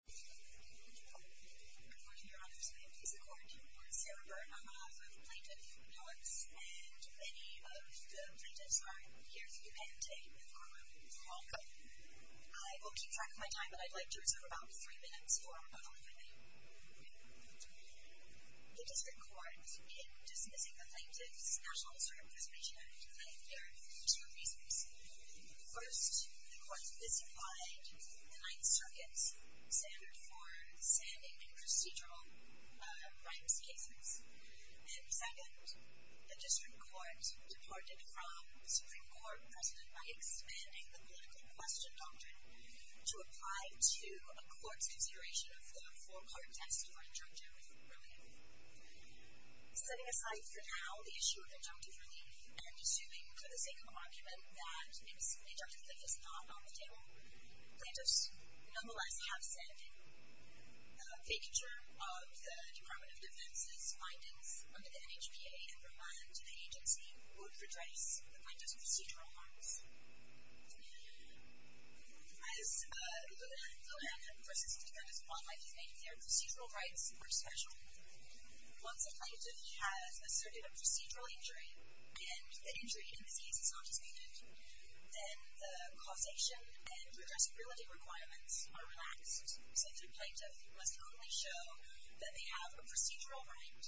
Good morning, Your Honors. My name is the Court. I'm Sarah Burnham. I'm an author of Plaintiff Notes, and many of the plaintiffs are here today. I will keep track of my time, but I'd like to reserve about three minutes for rebuttal, if I may. The District Court, in dismissing the plaintiff's National Historic Preservation Act, claimed there are two reasons. First, the Court visified the Ninth Circuit's standard for standing in procedural rights cases. And second, the District Court departed from the Supreme Court precedent by expanding the political question doctrine to apply to a court's consideration of the four-part test of our injunctive relief. Setting aside, for now, the issue of injunctive relief, and assuming, for the sake of argument, that injunctive relief is not on the table, plaintiffs, nonetheless, have said the vacature of the Department of Defense's findings under the NHPA and the agency would redress the plaintiff's procedural harms. As the Manhattan versus DeFrancois might be making their procedural rights more special, once a plaintiff has asserted a procedural injury, and the injury in this case is not disputed, then the causation and redressability requirements are relaxed, since a plaintiff must only show that they have a procedural right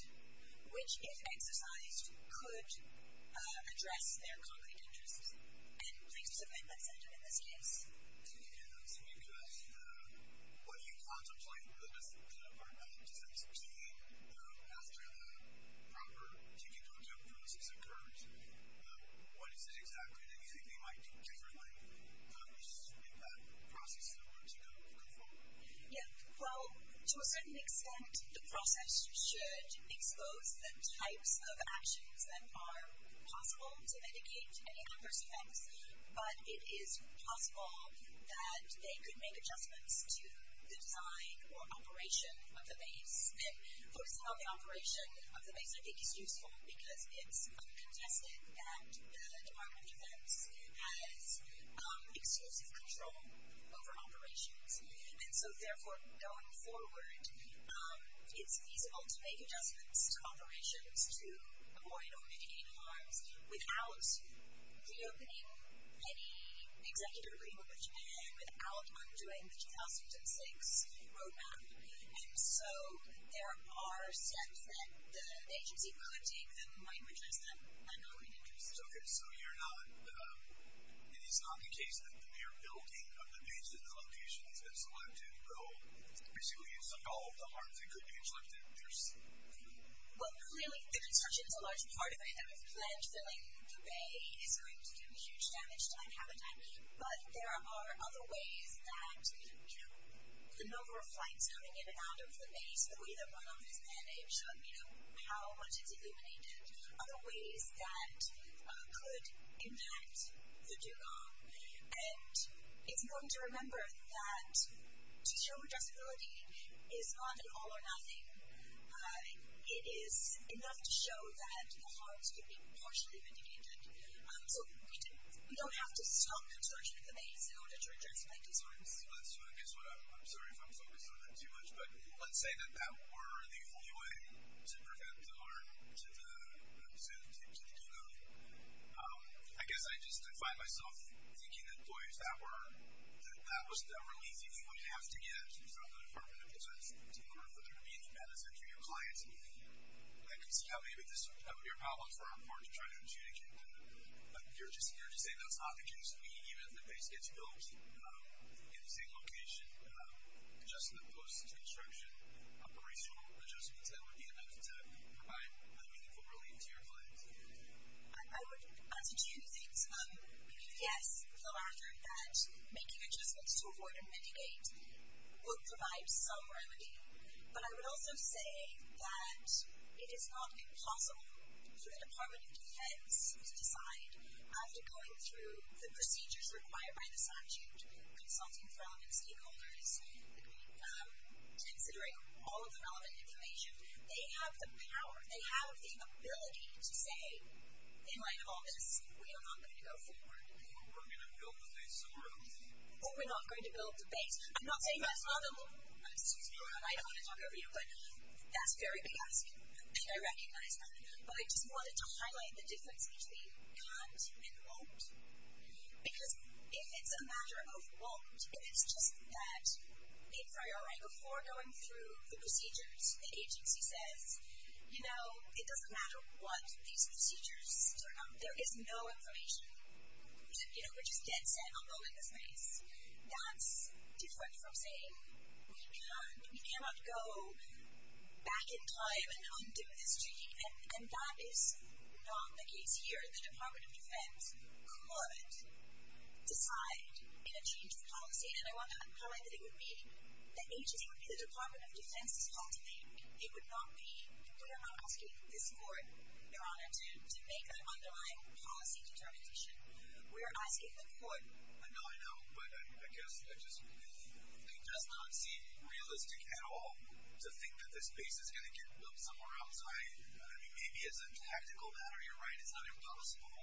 which, if exercised, could address their concrete interests. And plaintiffs have made that standard in this case. And can I ask you a question? What do you contemplate for the rest of the Department of Defense, particularly after the proper judicial judgment process occurs? What is it exactly that you think they might do differently in order to make that process go forward? Yeah, well, to a certain extent, the process should expose the types of actions that are possible to mitigate any adverse effects. But it is possible that they could make adjustments to the design or operation of the base. And focusing on the operation of the base, I think, is useful because it's contested that the Department of Defense has exclusive control over operations. And so, therefore, going forward, it's feasible to make adjustments to operations to avoid or mitigate harms without reopening any executive agreement with Japan, without undoing the 2006 roadmap. And so there are steps that the agency could take that might redress that concrete interest. Okay, so you're not – it is not the case that the mere building of the base in the locations that's selected will basically absolve the harms that could be inflicted? Well, clearly, the construction is a large part of it. And we've pledged that the bay is going to do huge damage to that habitat. But there are other ways that the number of flights coming in and out of the base, the way the runoff is managed, how much it's illuminated, other ways that could impact the do-go. And it's important to remember that to show addressability is not an all-or-nothing. It is enough to show that the harms could be partially mitigated. So we don't have to stop construction of the base in order to address mighty harms. I'm sorry if I'm focusing on that too much. But let's say that that were the only way to prevent harm to the do-go. I guess I just find myself thinking that that was the only easy thing we have to get from the Department of Defense to remember that there would be a demand essentially of clients. And I can see how maybe this would be a problem for our part to try to adjudicate. You're just saying that's not the case. I mean, even if the base gets built in the same location, just in the post-construction operational adjustments, that would be enough to provide a meaningful relief to your clients. I would attitude it, yes, Phil Arthur, that making adjustments to avoid and mitigate would provide some remedy. But I would also say that it is not impossible for the Department of Defense to decide after going through the procedures required by the statute, consulting from stakeholders, considering all of the relevant information. They have the power, they have the ability to say in light of all this, we are not going to go forward. Or we're going to build the base somewhere else. Or we're not going to build the base. I'm not saying that's not the case. I don't want to talk over you, but that's a very big ask. And I recognize that. But I just wanted to highlight the difference between can't and won't. Because if it's a matter of won't, if it's just that a priori before going through the procedures, the agency says, you know, it doesn't matter what these procedures turn out, there is no information. We're just dead set on building this base. That's different from saying we cannot go back in time and undo this treaty. And that is not the case here. The Department of Defense could decide in a change of policy. And I want to highlight that it would be the agency, it would be the Department of Defense's call to make. It would not be, we are not asking this court, Your Honor, to make that underlying policy determination. We are asking the court. I know, I know. But I guess it does not seem realistic at all to think that this base is going to get built somewhere outside. I mean, maybe as a tactical matter, you're right, it's not impossible.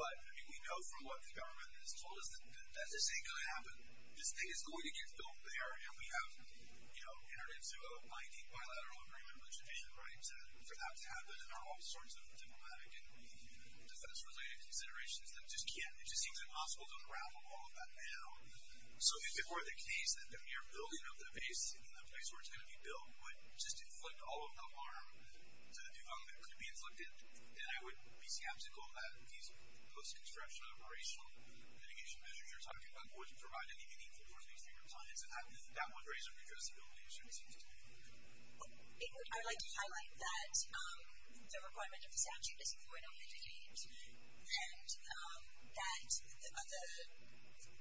But, I mean, we know from what the government has told us, that this ain't going to happen. This base is going to get built there. And we have, you know, entered into a binding bilateral agreement with Japan, right, for that to happen. And there are all sorts of diplomatic and defense-related considerations that just can't, it just seems impossible to unravel all of that now. So if it were the case that the mere building of the base in the place where it's going to be built would just inflict all of the harm to the new government, could be inflicted, then I would be skeptical that these post-construction operational mitigation measures you're talking about wouldn't provide any meaningful towards these new consignments. And that would raise a redressability issue, it seems to me. Well, I would like to highlight that the requirement of the statute is avoid or mitigate. And that the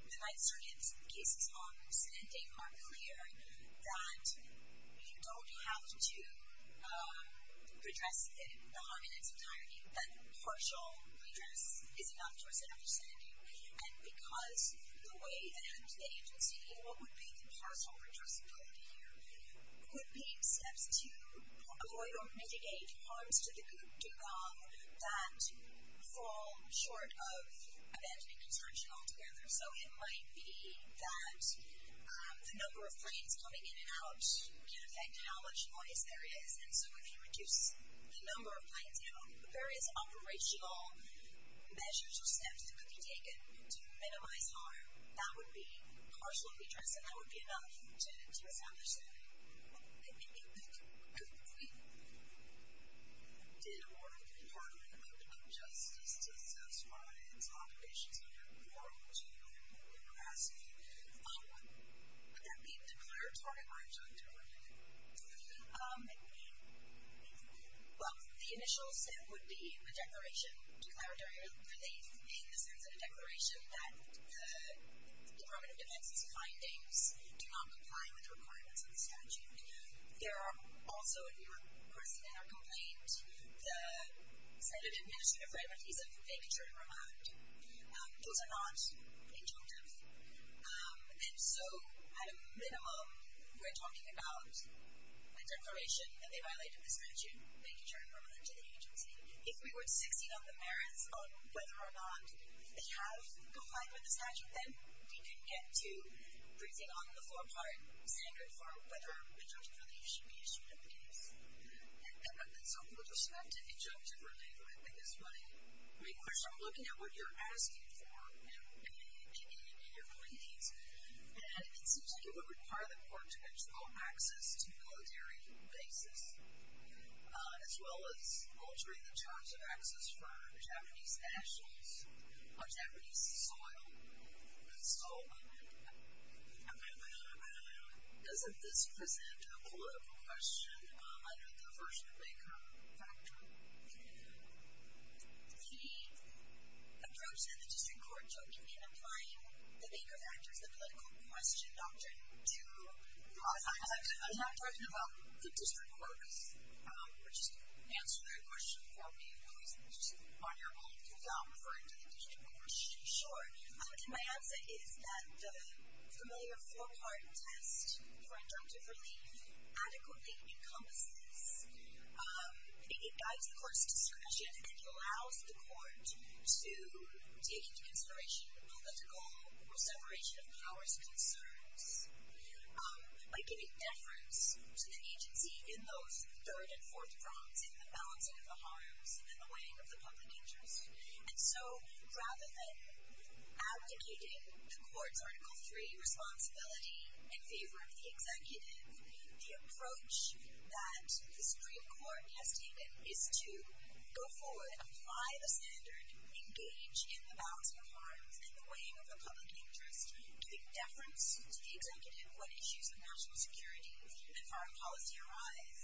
Nizerian's cases on rescinding are clear, that you don't have to redress the harm in its entirety. That partial redress is enough towards an understanding. And because the way that happens at the agency, what would be the partial redressability here, would be steps to avoid or mitigate harms to the government that fall short of abandoning construction altogether. So it might be that the number of planes coming in and out can affect how much noise there is. And so if you reduce the number of planes, there is operational measures or steps that could be taken to minimize harm. That would be partial redress, and that would be enough to establish that. If we did award the Department of Public Health Justice to the South Somaliland and its obligations under the moral, legal, and moral capacity, would that be declaratory or injunctory? Well, the initial step would be a declaration, declaratory relief in the sense of a declaration that the Department of Defense's findings do not comply with the requirements of the statute. There are also, if you were interested in our complaint, the Senate Administrative Freedmen Visa vacature and remand. Those are not injunctive. And so at a minimum, we're talking about a declaration that they violated the statute, vacature and remand to the agency. If we were to succeed on the merits on whether or not they have complied with the statute, then we could get to briefing on the forepart standard for whether injunctive relief should be issued in the case. And so with respect to injunctive relief, I think it's my question, looking at what you're asking for in your complaints, that it seems like it would require the court to control access to military bases, as well as altering the terms of access for Japanese nationals, or Japanese soil. So, doesn't this present a political question under the version of vacure factor? The approach that the district court took in applying the vacure factors, the political question doctrine, to. I'm not talking about the district courts, which answer that question for me, On your point, can I refer to the district court? Sure. My answer is that the familiar forepart test for injunctive relief adequately encompasses, it guides the court's discretion, and it allows the court to take into consideration the political separation of powers concerns. By giving deference to the agency in those third and fourth grounds, it's in the balancing of the harms and the weighing of the public interest. And so, rather than abdicating the court's article three responsibility in favor of the executive, the approach that the district court has taken is to go forward, apply the standard, engage in the balancing of harms and the weighing of the public interest, give deference to the executive, what issues of national security and foreign policy arise.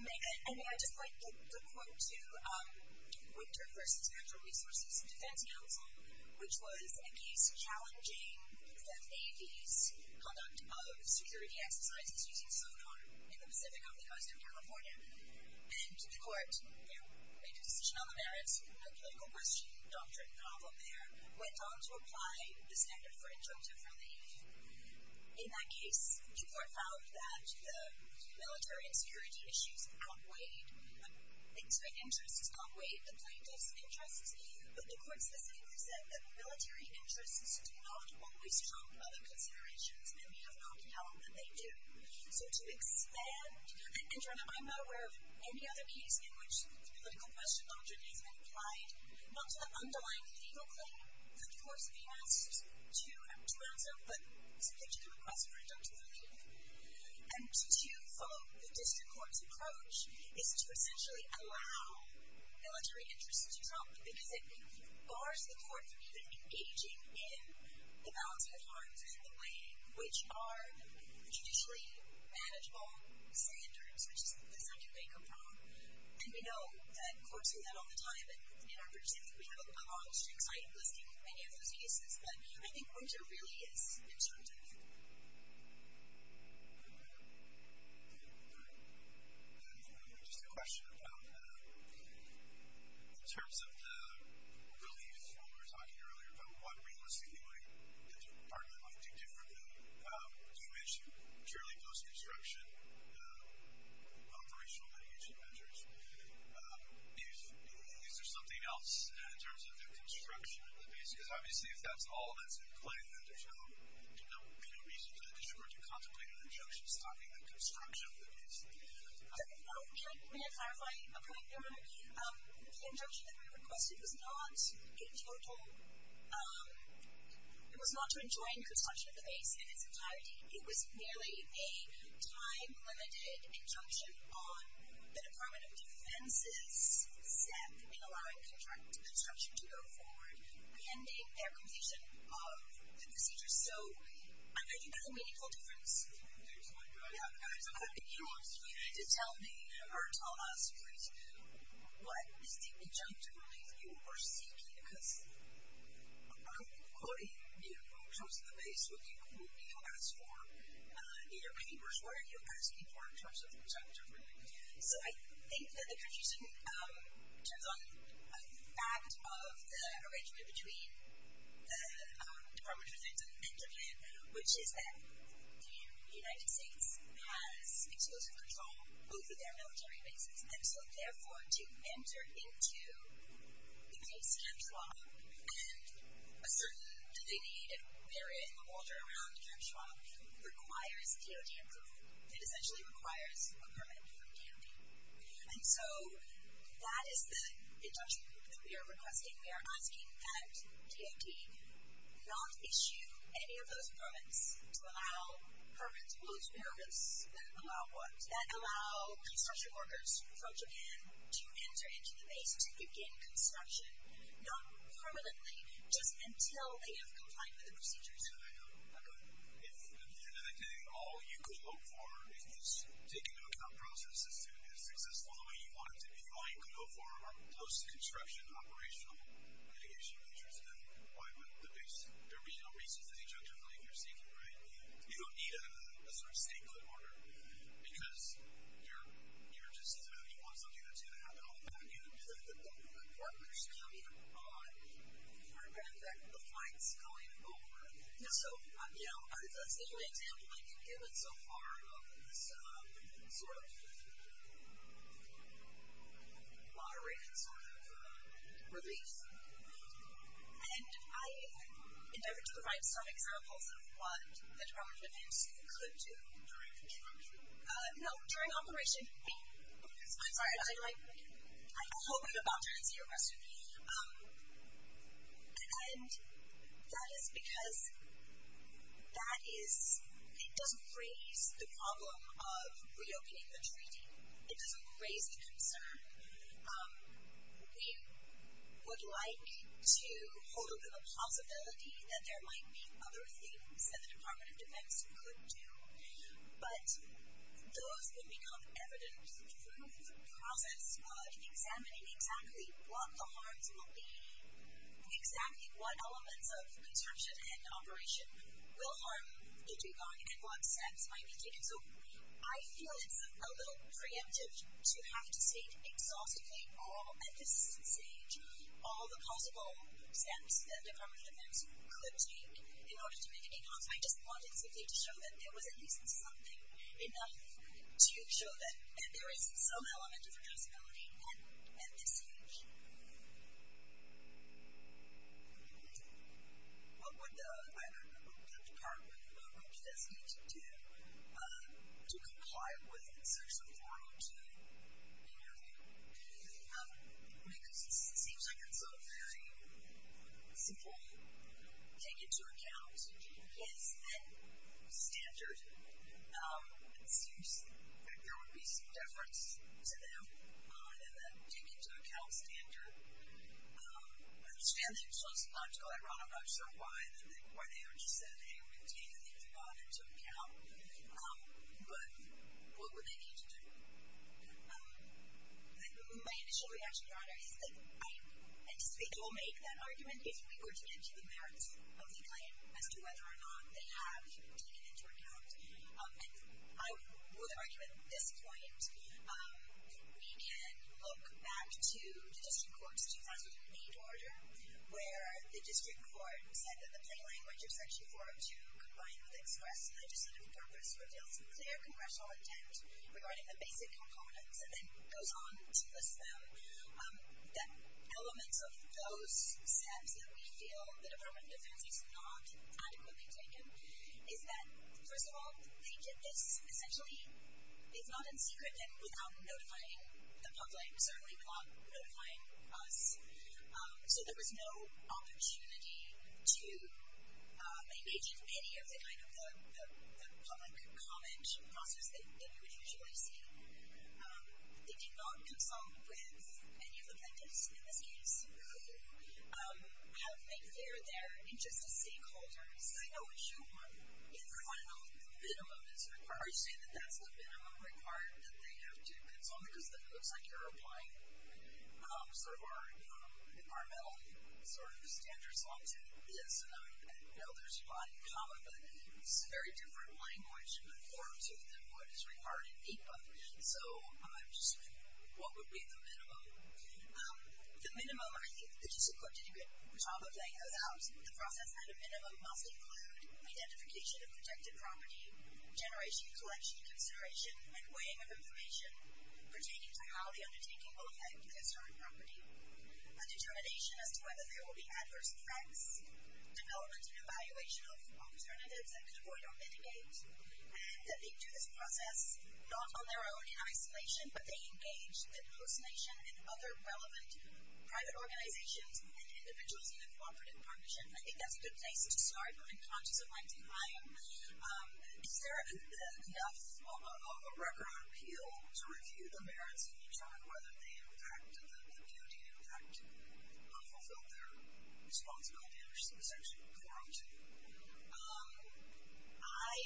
May I just point the court to Winter versus Natural Resources Defense Council, which was a case challenging the Navy's conduct of security exercises using sonar in the Pacific on the coast of California. And the court made a decision on the merits, a political question doctrine problem there, went on to apply the standard for injunctive relief. In that case, the court found that the military and security issues outweighed the things of interest, outweighed the plaintiff's interests. But the court specifically said that military interests do not always trump other considerations, and we have no doubt that they do. So to expand, and I'm not aware of any other case in which the political question not to the underlying legal claim that the court's being asked to answer, but simply to the request for injunctive relief. And to follow the district court's approach is to essentially allow military interests to trump, because it bars the court from even engaging in the balance of the harms and the weighing, which are traditionally manageable standards, which is the second way to come from. And we know that courts do that all the time. And in our brief statement, we have a long, many of those cases, but I think Winter really is injunctive. And just a question about, in terms of the relief, when we were talking earlier about what realistically the department might do differently, you mentioned purely post-construction, operational mitigation measures. Is there something else in terms of the construction of the base? Because obviously if that's all that's in play, then there's no reason for the district court to contemplate an injunction stopping the construction of the base. No. Can I clarify a point there? The injunction that we requested was not in total, it was not to enjoin construction of the base in its entirety. It was merely a time-limited injunction on the Department of Defense's staff in allowing construction to go forward, pending their completion of the procedure. So I think that's a meaningful difference. There's one. Yeah, there's one. If you want to tell me or tell us, please, what is the injunction relief you were seeking? Because according to the approach to the base, what you quote, you don't ask for either papers, what are you asking for in terms of the construction of the base? So I think that the country student turns on a fact of the arrangement between the Department of Defense and the NWN, which is that the United States has explosive control over their military bases. And so therefore, to enter into the case in a trial and ascertain do they need an area in the structure around Camp Schwab requires DOD approval. It essentially requires a permit from DOD. And so that is the injunction that we are requesting. We are asking that DOD not issue any of those permits to allow permits, those permits that allow what? That allow construction workers from Japan to enter into the base to begin construction, not permanently, just until they have complied with the procedures. I know. I know. If you're dedicating all you could hope for, if you're just taking into account processes to be successful the way you want it to be, all you could hope for are post-construction operational mitigation measures, then why would the base, there would be no reason for the injunction relief you're seeking, right? You don't need a sort of state court order because you're just, you want something that's going to happen all the time. I mean, you can put the workers coming on board, but in fact, the flight's going over. So, you know, that's the only example I can give it so far of this sort of moderated sort of relief. And I endeavored to provide some examples of what the Department of Emergency could do. During construction? No, during operation. I'm sorry. I hope I'm about to answer your question. And that is because that is, it doesn't raise the problem of reopening the treaty. It doesn't raise the concern. We would like to hold a little possibility that there might be other things that the Department of Defense could do, but those would become evidence through process, but examining exactly what the harms will be, examining what elements of construction and operation will harm the dugong and what steps might be taken. So, I feel it's a little preemptive to have to state exhaustively all, and this is insane, all the possible steps that the Department of Defense could take in order to make it enhance. So I just wanted simply to show that there was at least something enough to show that there is some element of addressability at this stage. What would the Department of Defense need to do to comply with Section 402 in your view? Because it seems like it's a very simple thing to take into account. Yes. Standard. It seems like there would be some deference to them in that take into account standard. I understand that it's just logical and ironic, I'm not sure why they would just say, hey, we'll take things into account, but what would they need to do? My initial reaction to that is that I anticipate they will make that timeline as to whether or not they have taken into account. And I would argue at this point, we can look back to the District Court's 2008 order, where the District Court said that the plain language of Section 402 combined with express legislative purpose reveals clear congressional intent regarding the basic components, and then goes on to list them. The elements of those steps that we feel the Department of Defense has not adequately taken is that, first of all, they did this essentially, it's not in secret, and without notifying the public, certainly not notifying us. So there was no opportunity to engage in any of the kind of the public comment process that you would usually see. They did not consult with any of the plaintiffs, in this case, who have made clear their interests as stakeholders. I know what you want. The final minimum is required. Are you saying that that's the minimum required that they have to consult because then it looks like you're applying sort of our environmental sort of standards onto this? And I know there's a lot in common, but it's a very different language and forms of what is required in APA. So just what would be the minimum? The minimum, I think, the District Court did a good job of laying those out. The process at a minimum must include identification of protected property, generation, collection, consideration, and weighing of information, pertaining to how the undertaking will affect the historic property, a determination as to whether there will be adverse effects, development and evaluation of alternatives that could avoid or mitigate, and that they do this process not on their own in isolation, but they engage the host nation and other relevant private organizations and individuals in a cooperative partnership. I think that's a good place to start. I'm conscious of my time. Is there enough of a record of appeal to review the merits and determine whether the appeal did, in fact, fulfill their responsibility or should be subject to appeal? I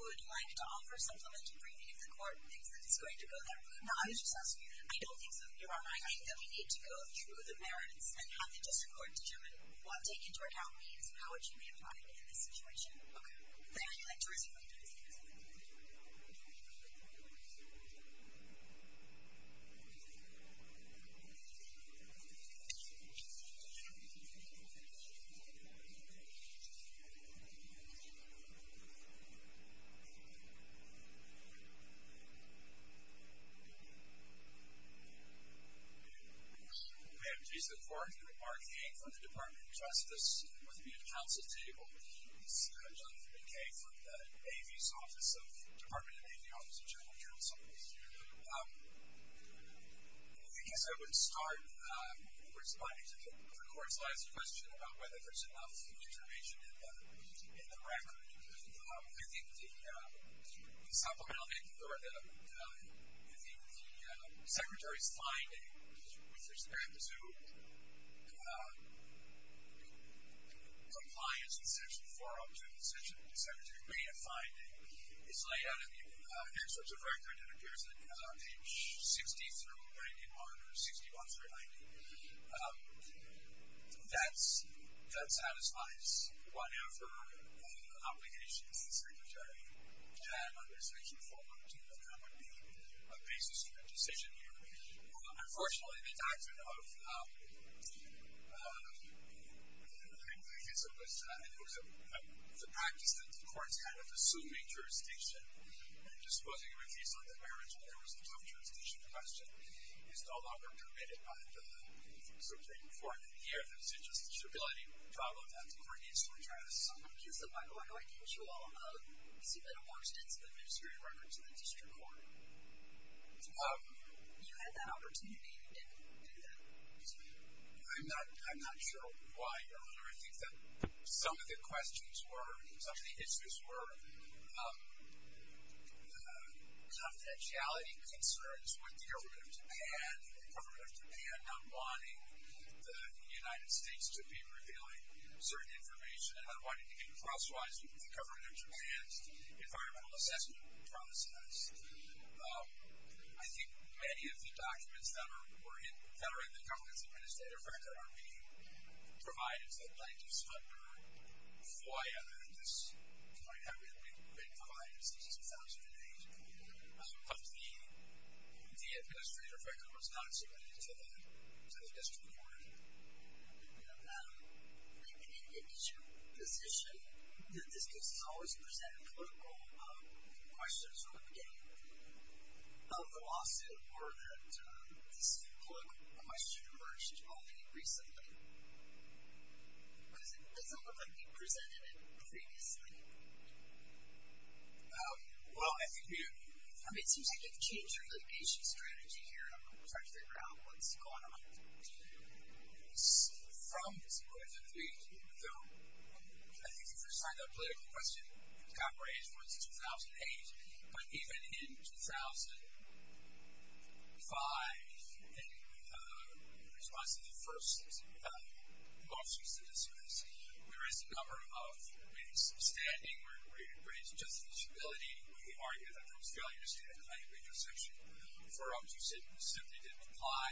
would like to offer supplementary briefing to the court and think that it's going to go that route. No, I was just asking you. I don't think so. Your Honor, I think that we need to go through the merits and have the District Court determine what taking to account means and how it should be applied in this situation. Okay. Thank you. Your Honor, I'd like to respond. We have a case in court. Mark A. from the Department of Justice with me at the counsel table. He's Jonathan McKay from the Department of Navy Office of General Counsel. In the case I would start, we're responding to the court's last question about whether there's enough information in the record. I think the supplement I'll make to the record, I think the Secretary's finding with respect to compliance in Section 4, Option 2, the Secretary may have finding is laid out in the excerpts of record that appears on page 60 through 91 or 61 through 90. That satisfies whatever obligations the Secretary can, with respect to Section 4, Option 2, that would be a basis for a decision here. Unfortunately, the doctrine of, I guess it was, I think it was the practice that the court's kind of assuming jurisdiction and disposing of a case on the merits when there was no jurisdiction question is no longer permitted by the, sort of taken forth in here. There's just a jubilating problem that the court needs to address. So I'm going to guess that Michael, I know I gave you a lot of, you seem to have more extensive administrative records in the district court. You had that opportunity and you didn't do that. I'm not sure why, Your Honor. I think that some of the questions were, some of the issues were, confidentiality concerns with the government of Japan, the government of Japan not wanting the United States to be revealing certain information, and not wanting to get crosswise with the government of Japan's environmental assessment process. I think many of the documents that are in the government's administrative record are being provided to the plaintiffs under FOIA, and this might have been provided since 2008. But the administrative record was not submitted to the district court. Okay. I didn't get to your position that this case is always presented with political questions from the beginning of the lawsuit, or that this political question emerged only recently. Because it doesn't look like you presented it previously. Well, I think you do. I mean, it seems like you've changed your litigation strategy here. I'm just trying to figure out what's going on. From this point of view, though I think the first time that political question got raised was in 2008, but even in 2005, in response to the first lawsuit that was dismissed, there is a number of ways of standing where it raises justifiability. We argue that there was failure to stand at the height of intersection. For us, we simply didn't apply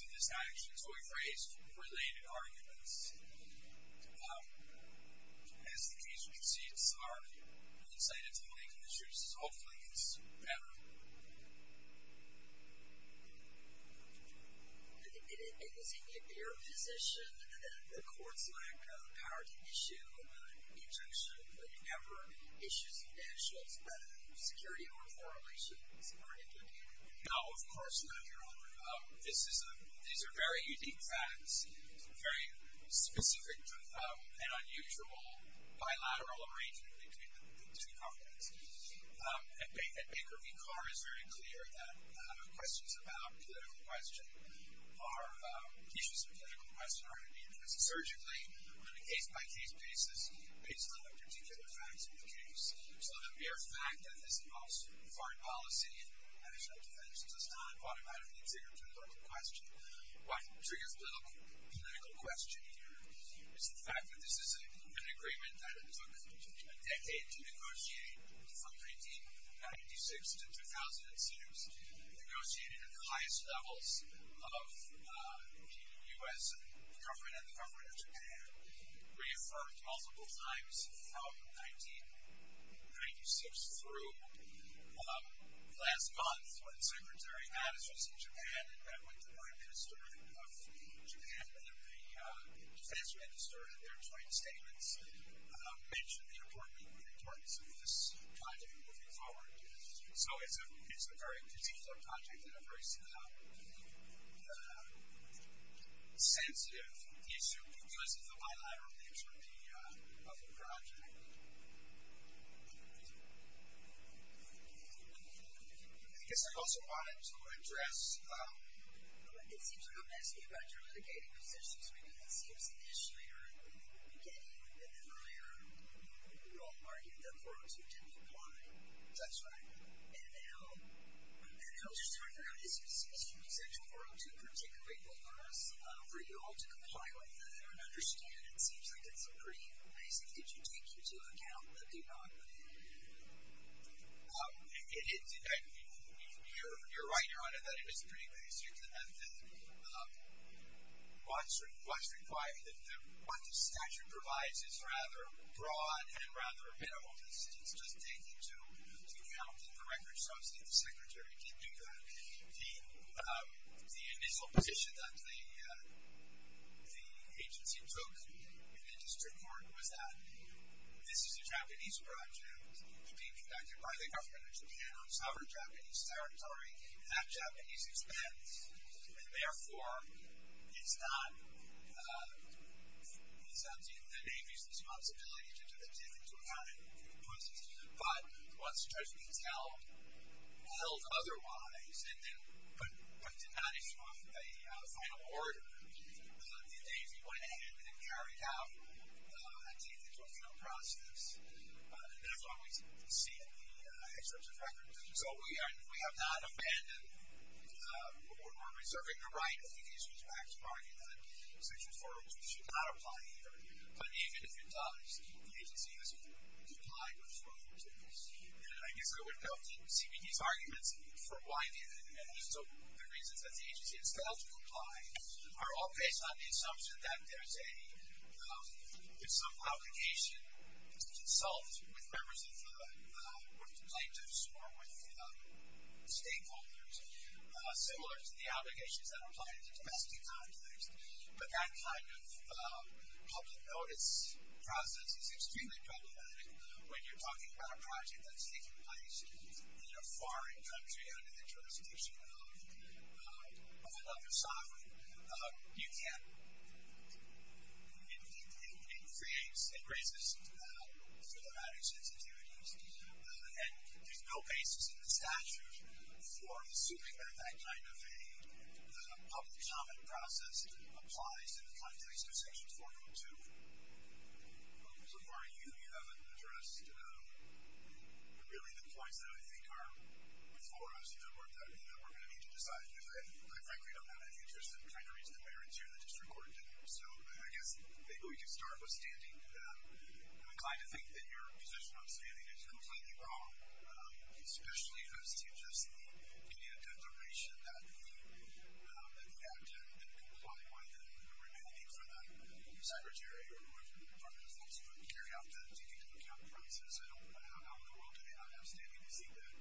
to this action. So we raised related arguments. As the case proceeds, our insight into the legal issues hopefully gets better. I think in your position, the courts lack power to issue an injunction. You never issue financial security or authorizations. No, of course not, Your Honor. These are very unique facts, very specific and unusual bilateral arrangements between the two contexts. At Baker v. Carr, it's very clear that questions about political question are issues of political question are in the interest surgically, on a case-by-case basis, based on the particular facts of the case. So the mere fact that this involves foreign policy and national defense does not automatically trigger political question. What triggers political question here is the fact that this is an agreement that it took a decade to negotiate from 1996 to 2006, negotiated at the highest levels of the U.S. government and the government of Japan, reaffirmed multiple times from 1996 through last month when Secretary Mattis was in Japan and met with the Prime Minister of Japan and the defense minister and their joint statements mentioned the importance of this kind of moving forward. So it's a very particular project and a very sensitive issue because of the bilateral nature of the project. I guess I also wanted to address... It seems you're not asking about your litigating positions, because it seems initially or at the beginning and then earlier you all argued that 402 didn't apply. That's right. And how specific is 402 particularly for us, for you all to comply with that? I don't understand. It seems like it's pretty basic. Did you take into account the denominator? You're right, Your Honor, that it was pretty basic. What the statute provides is rather broad and rather minimal. It's just taking into account that the record shows that the Secretary did do that. The initial position that the agency took in the district court was that this is a Japanese project being conducted by the government of Japan on sovereign Japanese territory at Japanese expense. And, therefore, it's not the Navy's responsibility to take into account it. But what's traditionally held, held otherwise, but did not issue a final order, the Navy went ahead and carried out a take-into-account process. And that's why we see the excerpts of records. So we have not abandoned or reserving the right of the district to act to argue that Section 402 should not apply here. But even if it does, the agency hasn't complied with 402. And I guess I would go to CBD's arguments for why they didn't. And so the reasons that the agency has failed to comply are all based on the assumption that there's a, if some obligation is to consult with members of the government, to consult with stakeholders, similar to the obligations that apply in the domestic context. But that kind of public notice process is extremely problematic when you're talking about a project that's taking place in a foreign country under the jurisdiction of another sovereign. You can't. It creates, it raises philosophic sensitivities. And there's no basis in the statute for assuming that that kind of a public comment process applies in the context of Section 402. So far you haven't addressed really the points that I think are before us, you know, that we're going to need to decide. And I frankly don't have any interest in trying to reason the way or answering the district court. So I guess maybe we can start with standing. I'm inclined to think that your position on standing is completely wrong, especially as to just the immediate determination that the act didn't comply with and the remaining for the secretary or whoever the department is that's going to carry out the due due account process. I don't know how in the world do they not have standing to see that.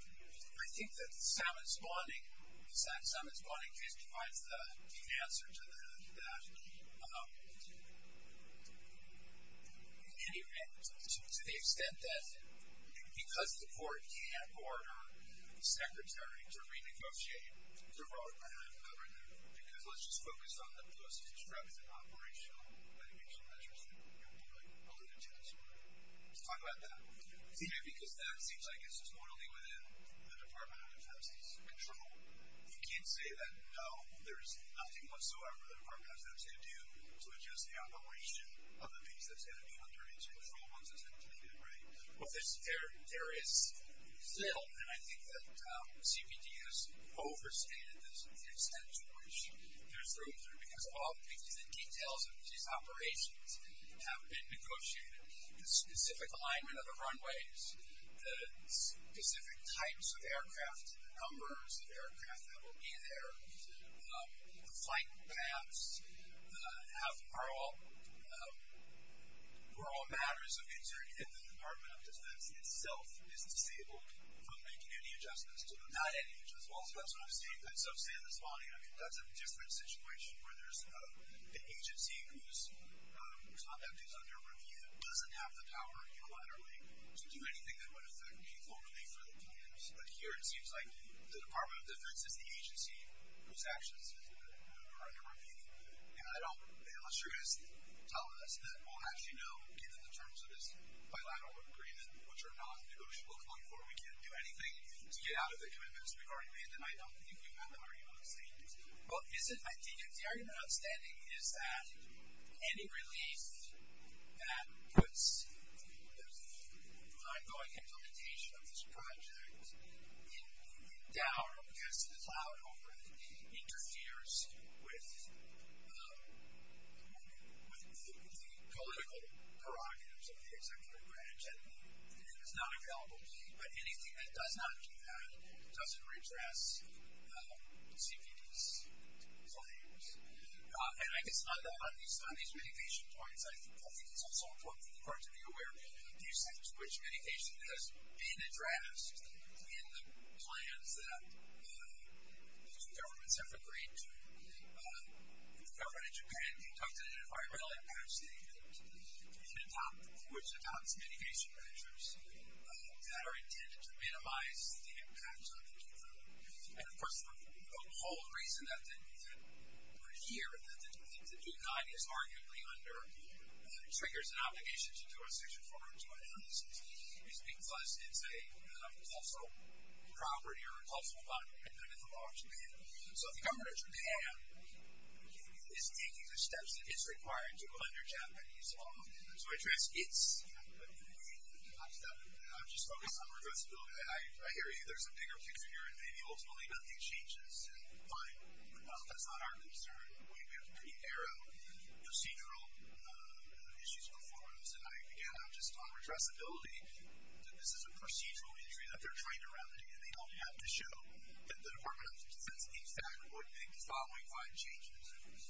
I think that Simon Spalding, Simon Spalding just provides the answer to that. In any event, to the extent that because the court can't order the secretary to renegotiate the vote, I haven't covered that. Because let's just focus on the post-extractive operational mitigation measures that you alluded to. Let's talk about that. Because that seems like it's just normally within the Department of Transportation. You can't say that, no, there's nothing whatsoever the department has to do to adjust the operation of the piece that's going to be under its control once it's been terminated, right? Well, there is still, and I think that CPD has overstated this, the extent to which there's room for it. Because all the details of these operations have been negotiated. The specific alignment of the runways, the specific types of aircraft, the numbers of aircraft that will be there, the flight paths, are all matters of concern. And the Department of Defense itself is disabled from making any adjustments to them. Not any adjustments at all? That's what I'm saying. That's what I'm saying this morning. I mean, that's a different situation where there's an agency whose conduct is under review that doesn't have the power unilaterally to do anything that would affect people, really, for the plans. But here it seems like the Department of Defense is the agency whose actions are under review. And I don't, unless you're going to tell us that we'll actually know, given the terms of this bilateral agreement, which are not negotiable going forward, we can't do anything to get out of it. I mean, that's a big argument, and I don't think you have the argument outstanding. Well, isn't, I think, the argument outstanding is that any relief that puts the ongoing implementation of this project in doubt or gets to the cloud over it interferes with the political prerogatives of the executive branch, and it is not available. But anything that does not do that doesn't redress CPD's claims. And I guess on these mitigation points, I think it's also important for the Department to be aware of the extent to which mitigation has been addressed in the plans that the two governments have agreed to. The government in Japan conducted an environmental impact statement, which adopts mitigation measures that are intended to minimize the impact on the people. And, of course, the whole reason that we're here, that we think that Japan is arguably under triggers and obligations to do a Section 402 analysis is because it's a cultural property or a cultural property under the law of Japan. So the government of Japan is taking the steps that it's required to under Japanese law to address its capability. I'm just focused on reversibility. I hear you. There's a bigger picture here, and maybe ultimately nothing changes. Fine. No, that's not our concern. We have pretty narrow procedural issues before us. And, again, I'm just on reversibility, that this is a procedural injury that they're trying to remedy, and they don't have to show that the Department of Defense in fact would make the following five changes.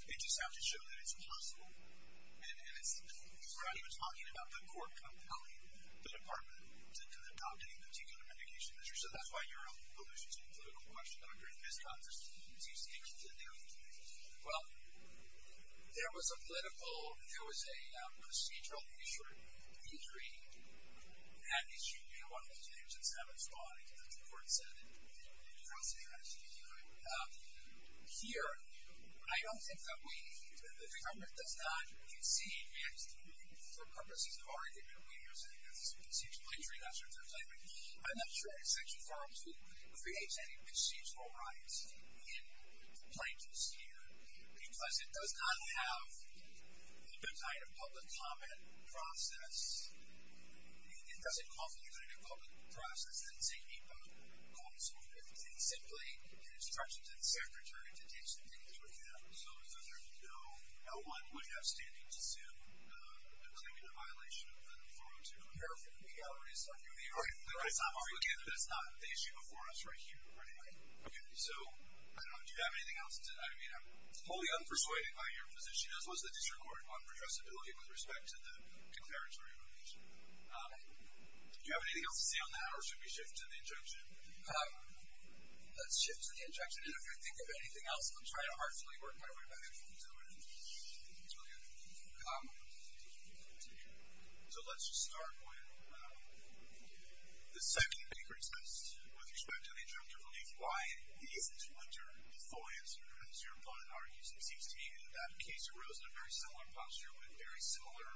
They just have to show that it's possible. And we're not even talking about the court compelling the Department to adopt any particular mitigation measure. So that's why your own position to include a watchdog during this conversation seems to be inconvenient. Well, there was a political, there was a procedural injury, and that issue, you know, one of those things that's haven't been brought into the court setting across the United States. Here, I don't think that we, that the government does not concede, and for purposes of argument, we have said that this is a procedural injury, and that's what they're claiming. I'm not sure that Section 402 creates any procedural rights in the plaintiffs' here, because it does not have the type of public comment process. It doesn't call for the type of public process that Zaheba calls for. It's simply an instruction to the Secretary to take some things into account. So, as far as I know, no one would have standing to sue a claimant in violation of 402. It's not the issue before us right here or anywhere. Okay. So, I don't know. Do you have anything else? I mean, I'm wholly unpersuaded by your position, as was the District Court one for addressability with respect to the comparatory litigation. Do you have anything else to say on that, or should we shift to the injunction? Let's shift to the injunction. And if you think of anything else, I'm trying to heartfully work my way back into it. Okay. So, let's just start with the second Baker test with respect to the injunction relief. Why is Twitter the full answer, as your opponent argues? It seems to me that that case arose in a very similar posture, with very similar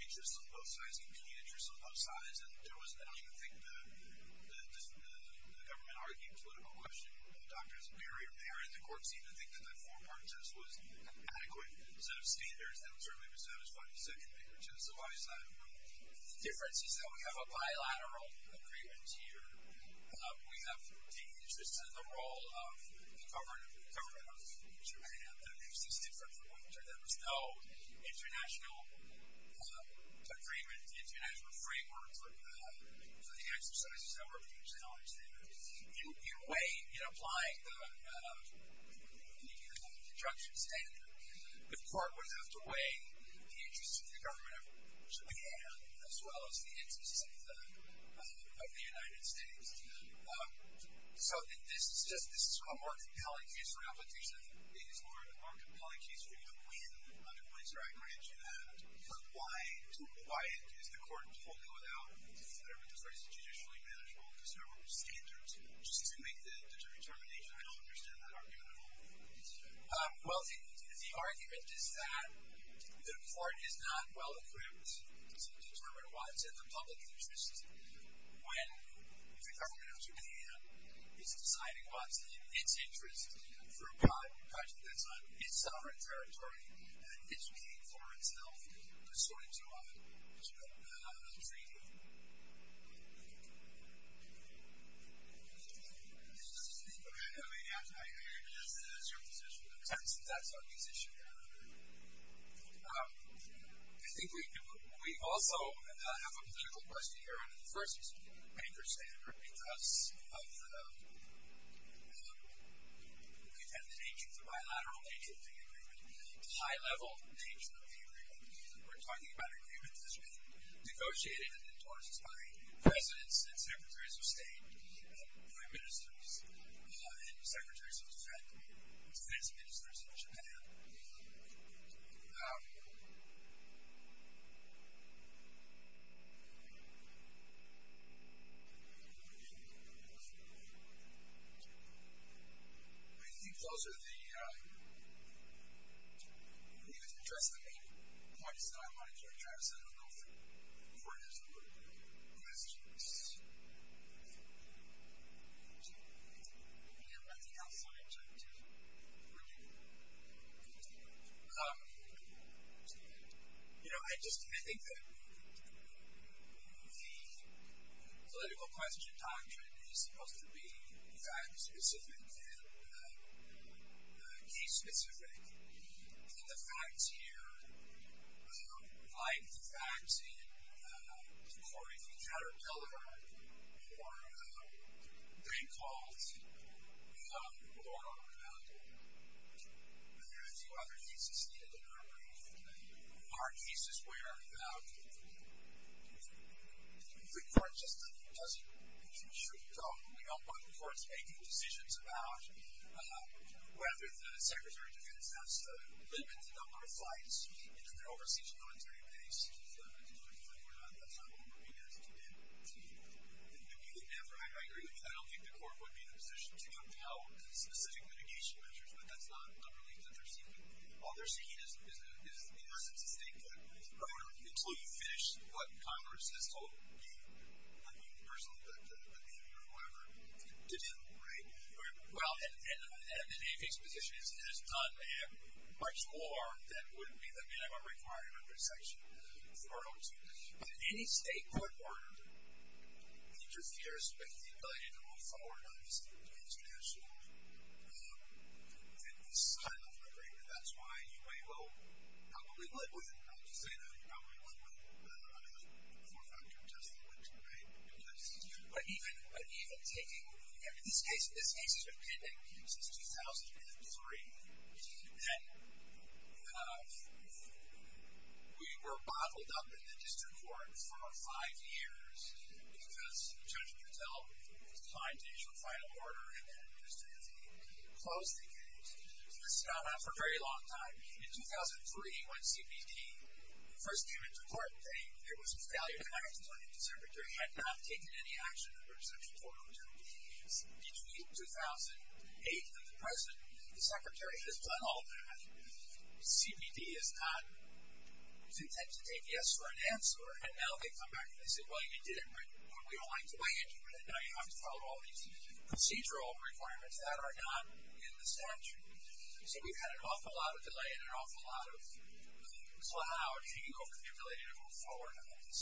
interests on both sides, competing interests on both sides. And I don't even think the government argued politically. The doctors were there, and the courts even think that the four-part test was an adequate set of standards that would certainly be satisfying the second Baker test. So, why is that? The difference is that we have a bilateral agreement here. We have taken interest in the role of the government of Japan. That makes this different from what we've done. There was no international agreement, international framework for the exercises that were being challenged there. In a way, in applying the injunction standard, the court would have to weigh the interests of the government of Japan, as well as the interests of the United States. So, this is just a more compelling case, a re-application of the Baker's Law, a more compelling case for you to win, under points where I've mentioned that. But why is the court totally without, whatever this word is, judicially manageable, conservative standards, just to make the determination? I don't understand that argument at all. Well, the argument is that the court is not well-equipped to determine what's in the public interest when the government of Japan is deciding what's in its interest for a project that's on its sovereign territory and educating foreign-style historians on freedom. Okay. I hear you. That's your position. That's our position. I think we also have a political question here, under the first Baker's standard, because of the contented nature, the bilateral nature of the agreement. The high-level nature of the agreement, we're talking about an agreement that's been negotiated and endorsed by presidents and secretaries of state, foreign ministers, and secretaries of state, defense ministers of Japan. I think those are the main points that I wanted to address. I don't know if the court is aware of this. I just can't think that the political question doctrine is supposed to be fact-specific and case-specific. And the facts here, like the facts in the court of Caterpillar, or Dreyfus, or there are a few other cases needed in our brief. There are cases where the court just doesn't, we don't want the courts making decisions about whether the secretary of state wants to limit the number of flights into their overseas military base. We're not, that's not what we're looking at. I agree with you. I don't think the court would be in a position to compel specific mitigation measures, but that's not a relief that they're seeking. All they're seeking is a license to stay put until you finish what Congress has not you personally, but you or whoever, to do. Right? Well, and the Navy's position is it has done much more than would be the minimum requirement under section 402. Did any state court order interfere with the ability to move forward on this international, this kind of migration? That's why you may well, probably would, I wouldn't say that you probably would, but I mean, a four factor test that went to the Navy. But even, but even taking, I mean, this case, this case has been pending since 2003. And we were bottled up in the district court for five years because the judge would tell the client to issue a final order. And then just as he closed the case, this has gone on for a very long time. In 2003, when CPD first came into court, there was a failure to act. The secretary had not taken any action under section 402. Between 2008 and the present, the secretary has done all that. CPD is not, is intent to take yes or an answer. And now they come back and say, well, you did it, but we don't like the way you did it. Now you have to follow all these procedural requirements that are not in the statute. So we've had an awful lot of delay and an awful lot of cloud, being over-capitulated to move forward on this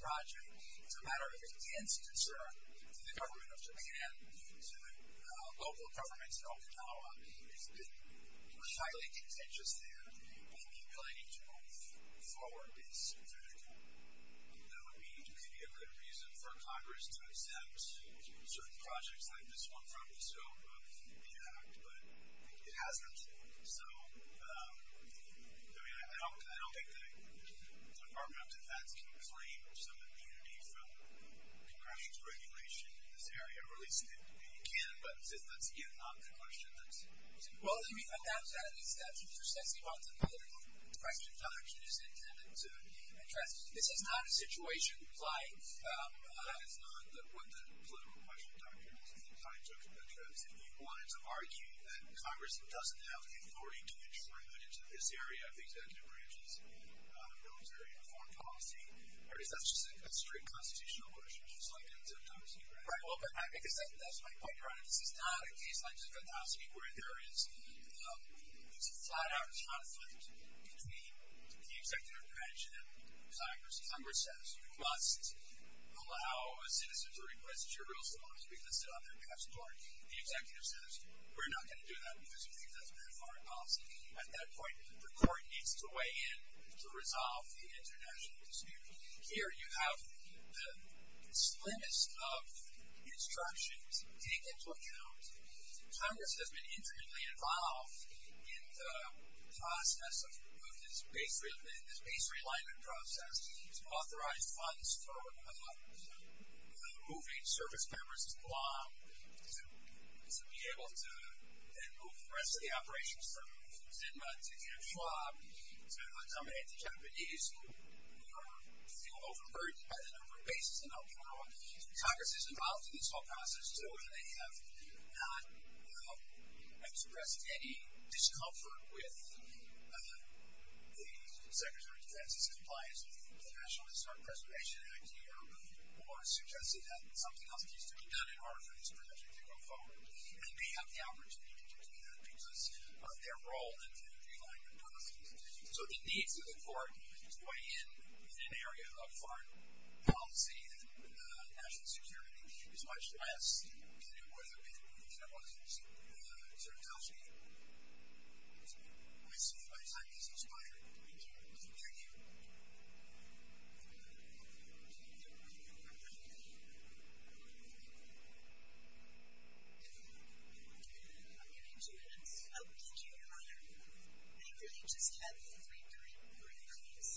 project. It's a matter of intense concern to the government of Chippenham, to local governments in Okinawa. It's been highly contentious there. And being capitated to move forward is very difficult. That would be, could be a good reason for Congress to accept certain projects like this one from the scope of the impact, but it hasn't. So, I mean, I don't think the Department of Defense can claim some immunity from Congress's regulation in this area, or at least it can, but that's, again, not the question that's. Well, I mean, that was out of the statute. First, I see why it's a political question. The question is intended to be addressed. This is not a situation like. That is not what the political question, Dr. Wilson, the time took to address. If you wanted to argue that Congress doesn't have the authority to address military and foreign policy, or is that just a straight constitutional question? Right. Well, that's my point. This is not a case like where there is, it's a flat out, it's a conflict between the executive branch and Congress. Congress says, you must allow a citizen to request that your real supporters be listed on their behalf's court. The executive says, we're not going to do that because we think that's bad foreign policy. At that point, the court needs to weigh in to resolve the international dispute. Here, you have the slimmest of instructions taken into account. Congress has been intimately involved in the process of removing, this base realignment process, to authorize funds for removing service members from the law, to be able to then move the rest of the operations from Zima to Kinshaw, to accommodate the Japanese, who feel overburdened by the number of bases in Okinawa. Congress is involved in this whole process, so they have not expressed any discomfort with the Secretary of Defense's compliance with the National Historic Preservation Act here, or suggested that something else needs to be done in order for this project to go forward. And they have the opportunity to do that because of their role in the realignment process. So it needs to, the court needs to weigh in in an area of foreign policy, and national security is much less than it would have been if there wasn't certain policy. I see. My time is expired. Thank you. I'm going to give you two minutes. Oh, thank you. Go ahead. I really just have three brief brief comments.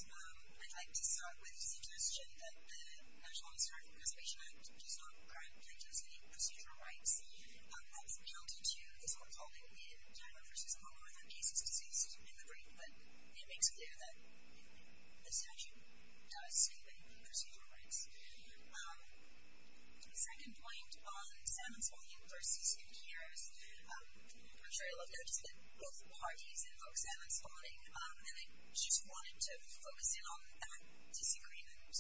I'd like to start with suggesting that the National Historic Preservation Act does not currently impose any procedural rights. That's relative to this whole calling in China versus Okinawa, where there are cases of diseases in the brain, but it makes clear that there are cases of diseases in the brain, and the statute does state that there are procedural rights. The second point on salmon spawning versus containers, I'm sure a lot of you have noticed that both parties invoke salmon spawning, and I just wanted to focus in on that disagreement,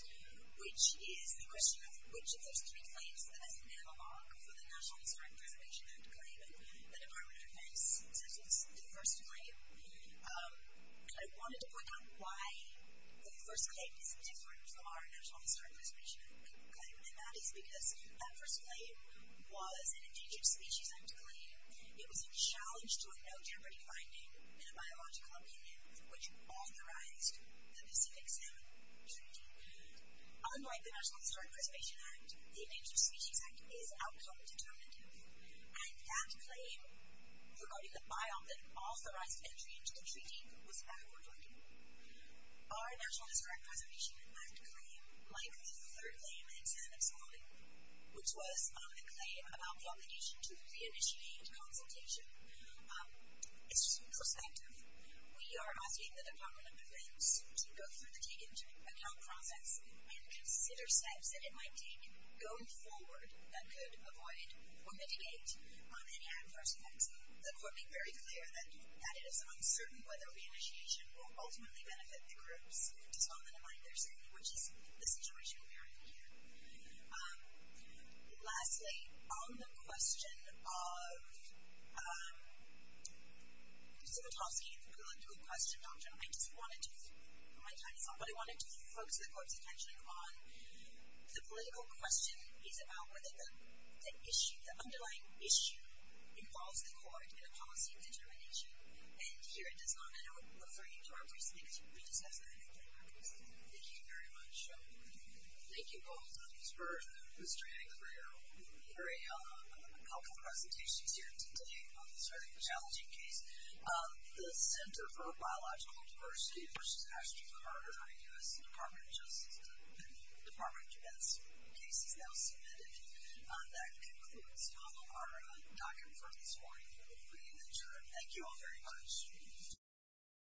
which is the question of which of those three claims that is an analog for the National Historic Preservation Act claim that the Department of Why the first claim is different from our National Historic Preservation Act claim, and that is because that first claim was an Endangered Species Act claim. It was a challenge to a no jeopardy finding in a biological opinion, which authorized the Pacific Salmon Treaty. Unlike the National Historic Preservation Act, the Endangered Species Act is outcome determinative, and that claim regarding the biome that authorized entry into the treaty was backward-looking. Our National Historic Preservation Act claim, like the third claim in salmon spawning, which was a claim about the obligation to re-initiate consultation, is two-perspective. We are asking the Department of Defense to go through the take-into-account process and consider steps that it might take going forward that could avoid or mitigate any adverse effects. The court made very clear that it is uncertain whether re-initiation will ultimately benefit the groups, just a moment in mind there, certainly, which is the situation we are in here. Lastly, on the question of Zivotofsky and the political question, Dr., I just wanted to focus the court's attention on the political question is about the underlying issue involves the court in a policy of determination, and here it does not refer you to our personally, because we discussed that. Thank you very much. Thank you both. For Mr. Yannick, for your very helpful presentations here today on this very challenging case, the Center for Biological Diversity, which is actually part of our U.S. Department of Justice and the Department of Defense case is now submitted. That concludes our document for this morning for the pre-initiation. Thank you all very much.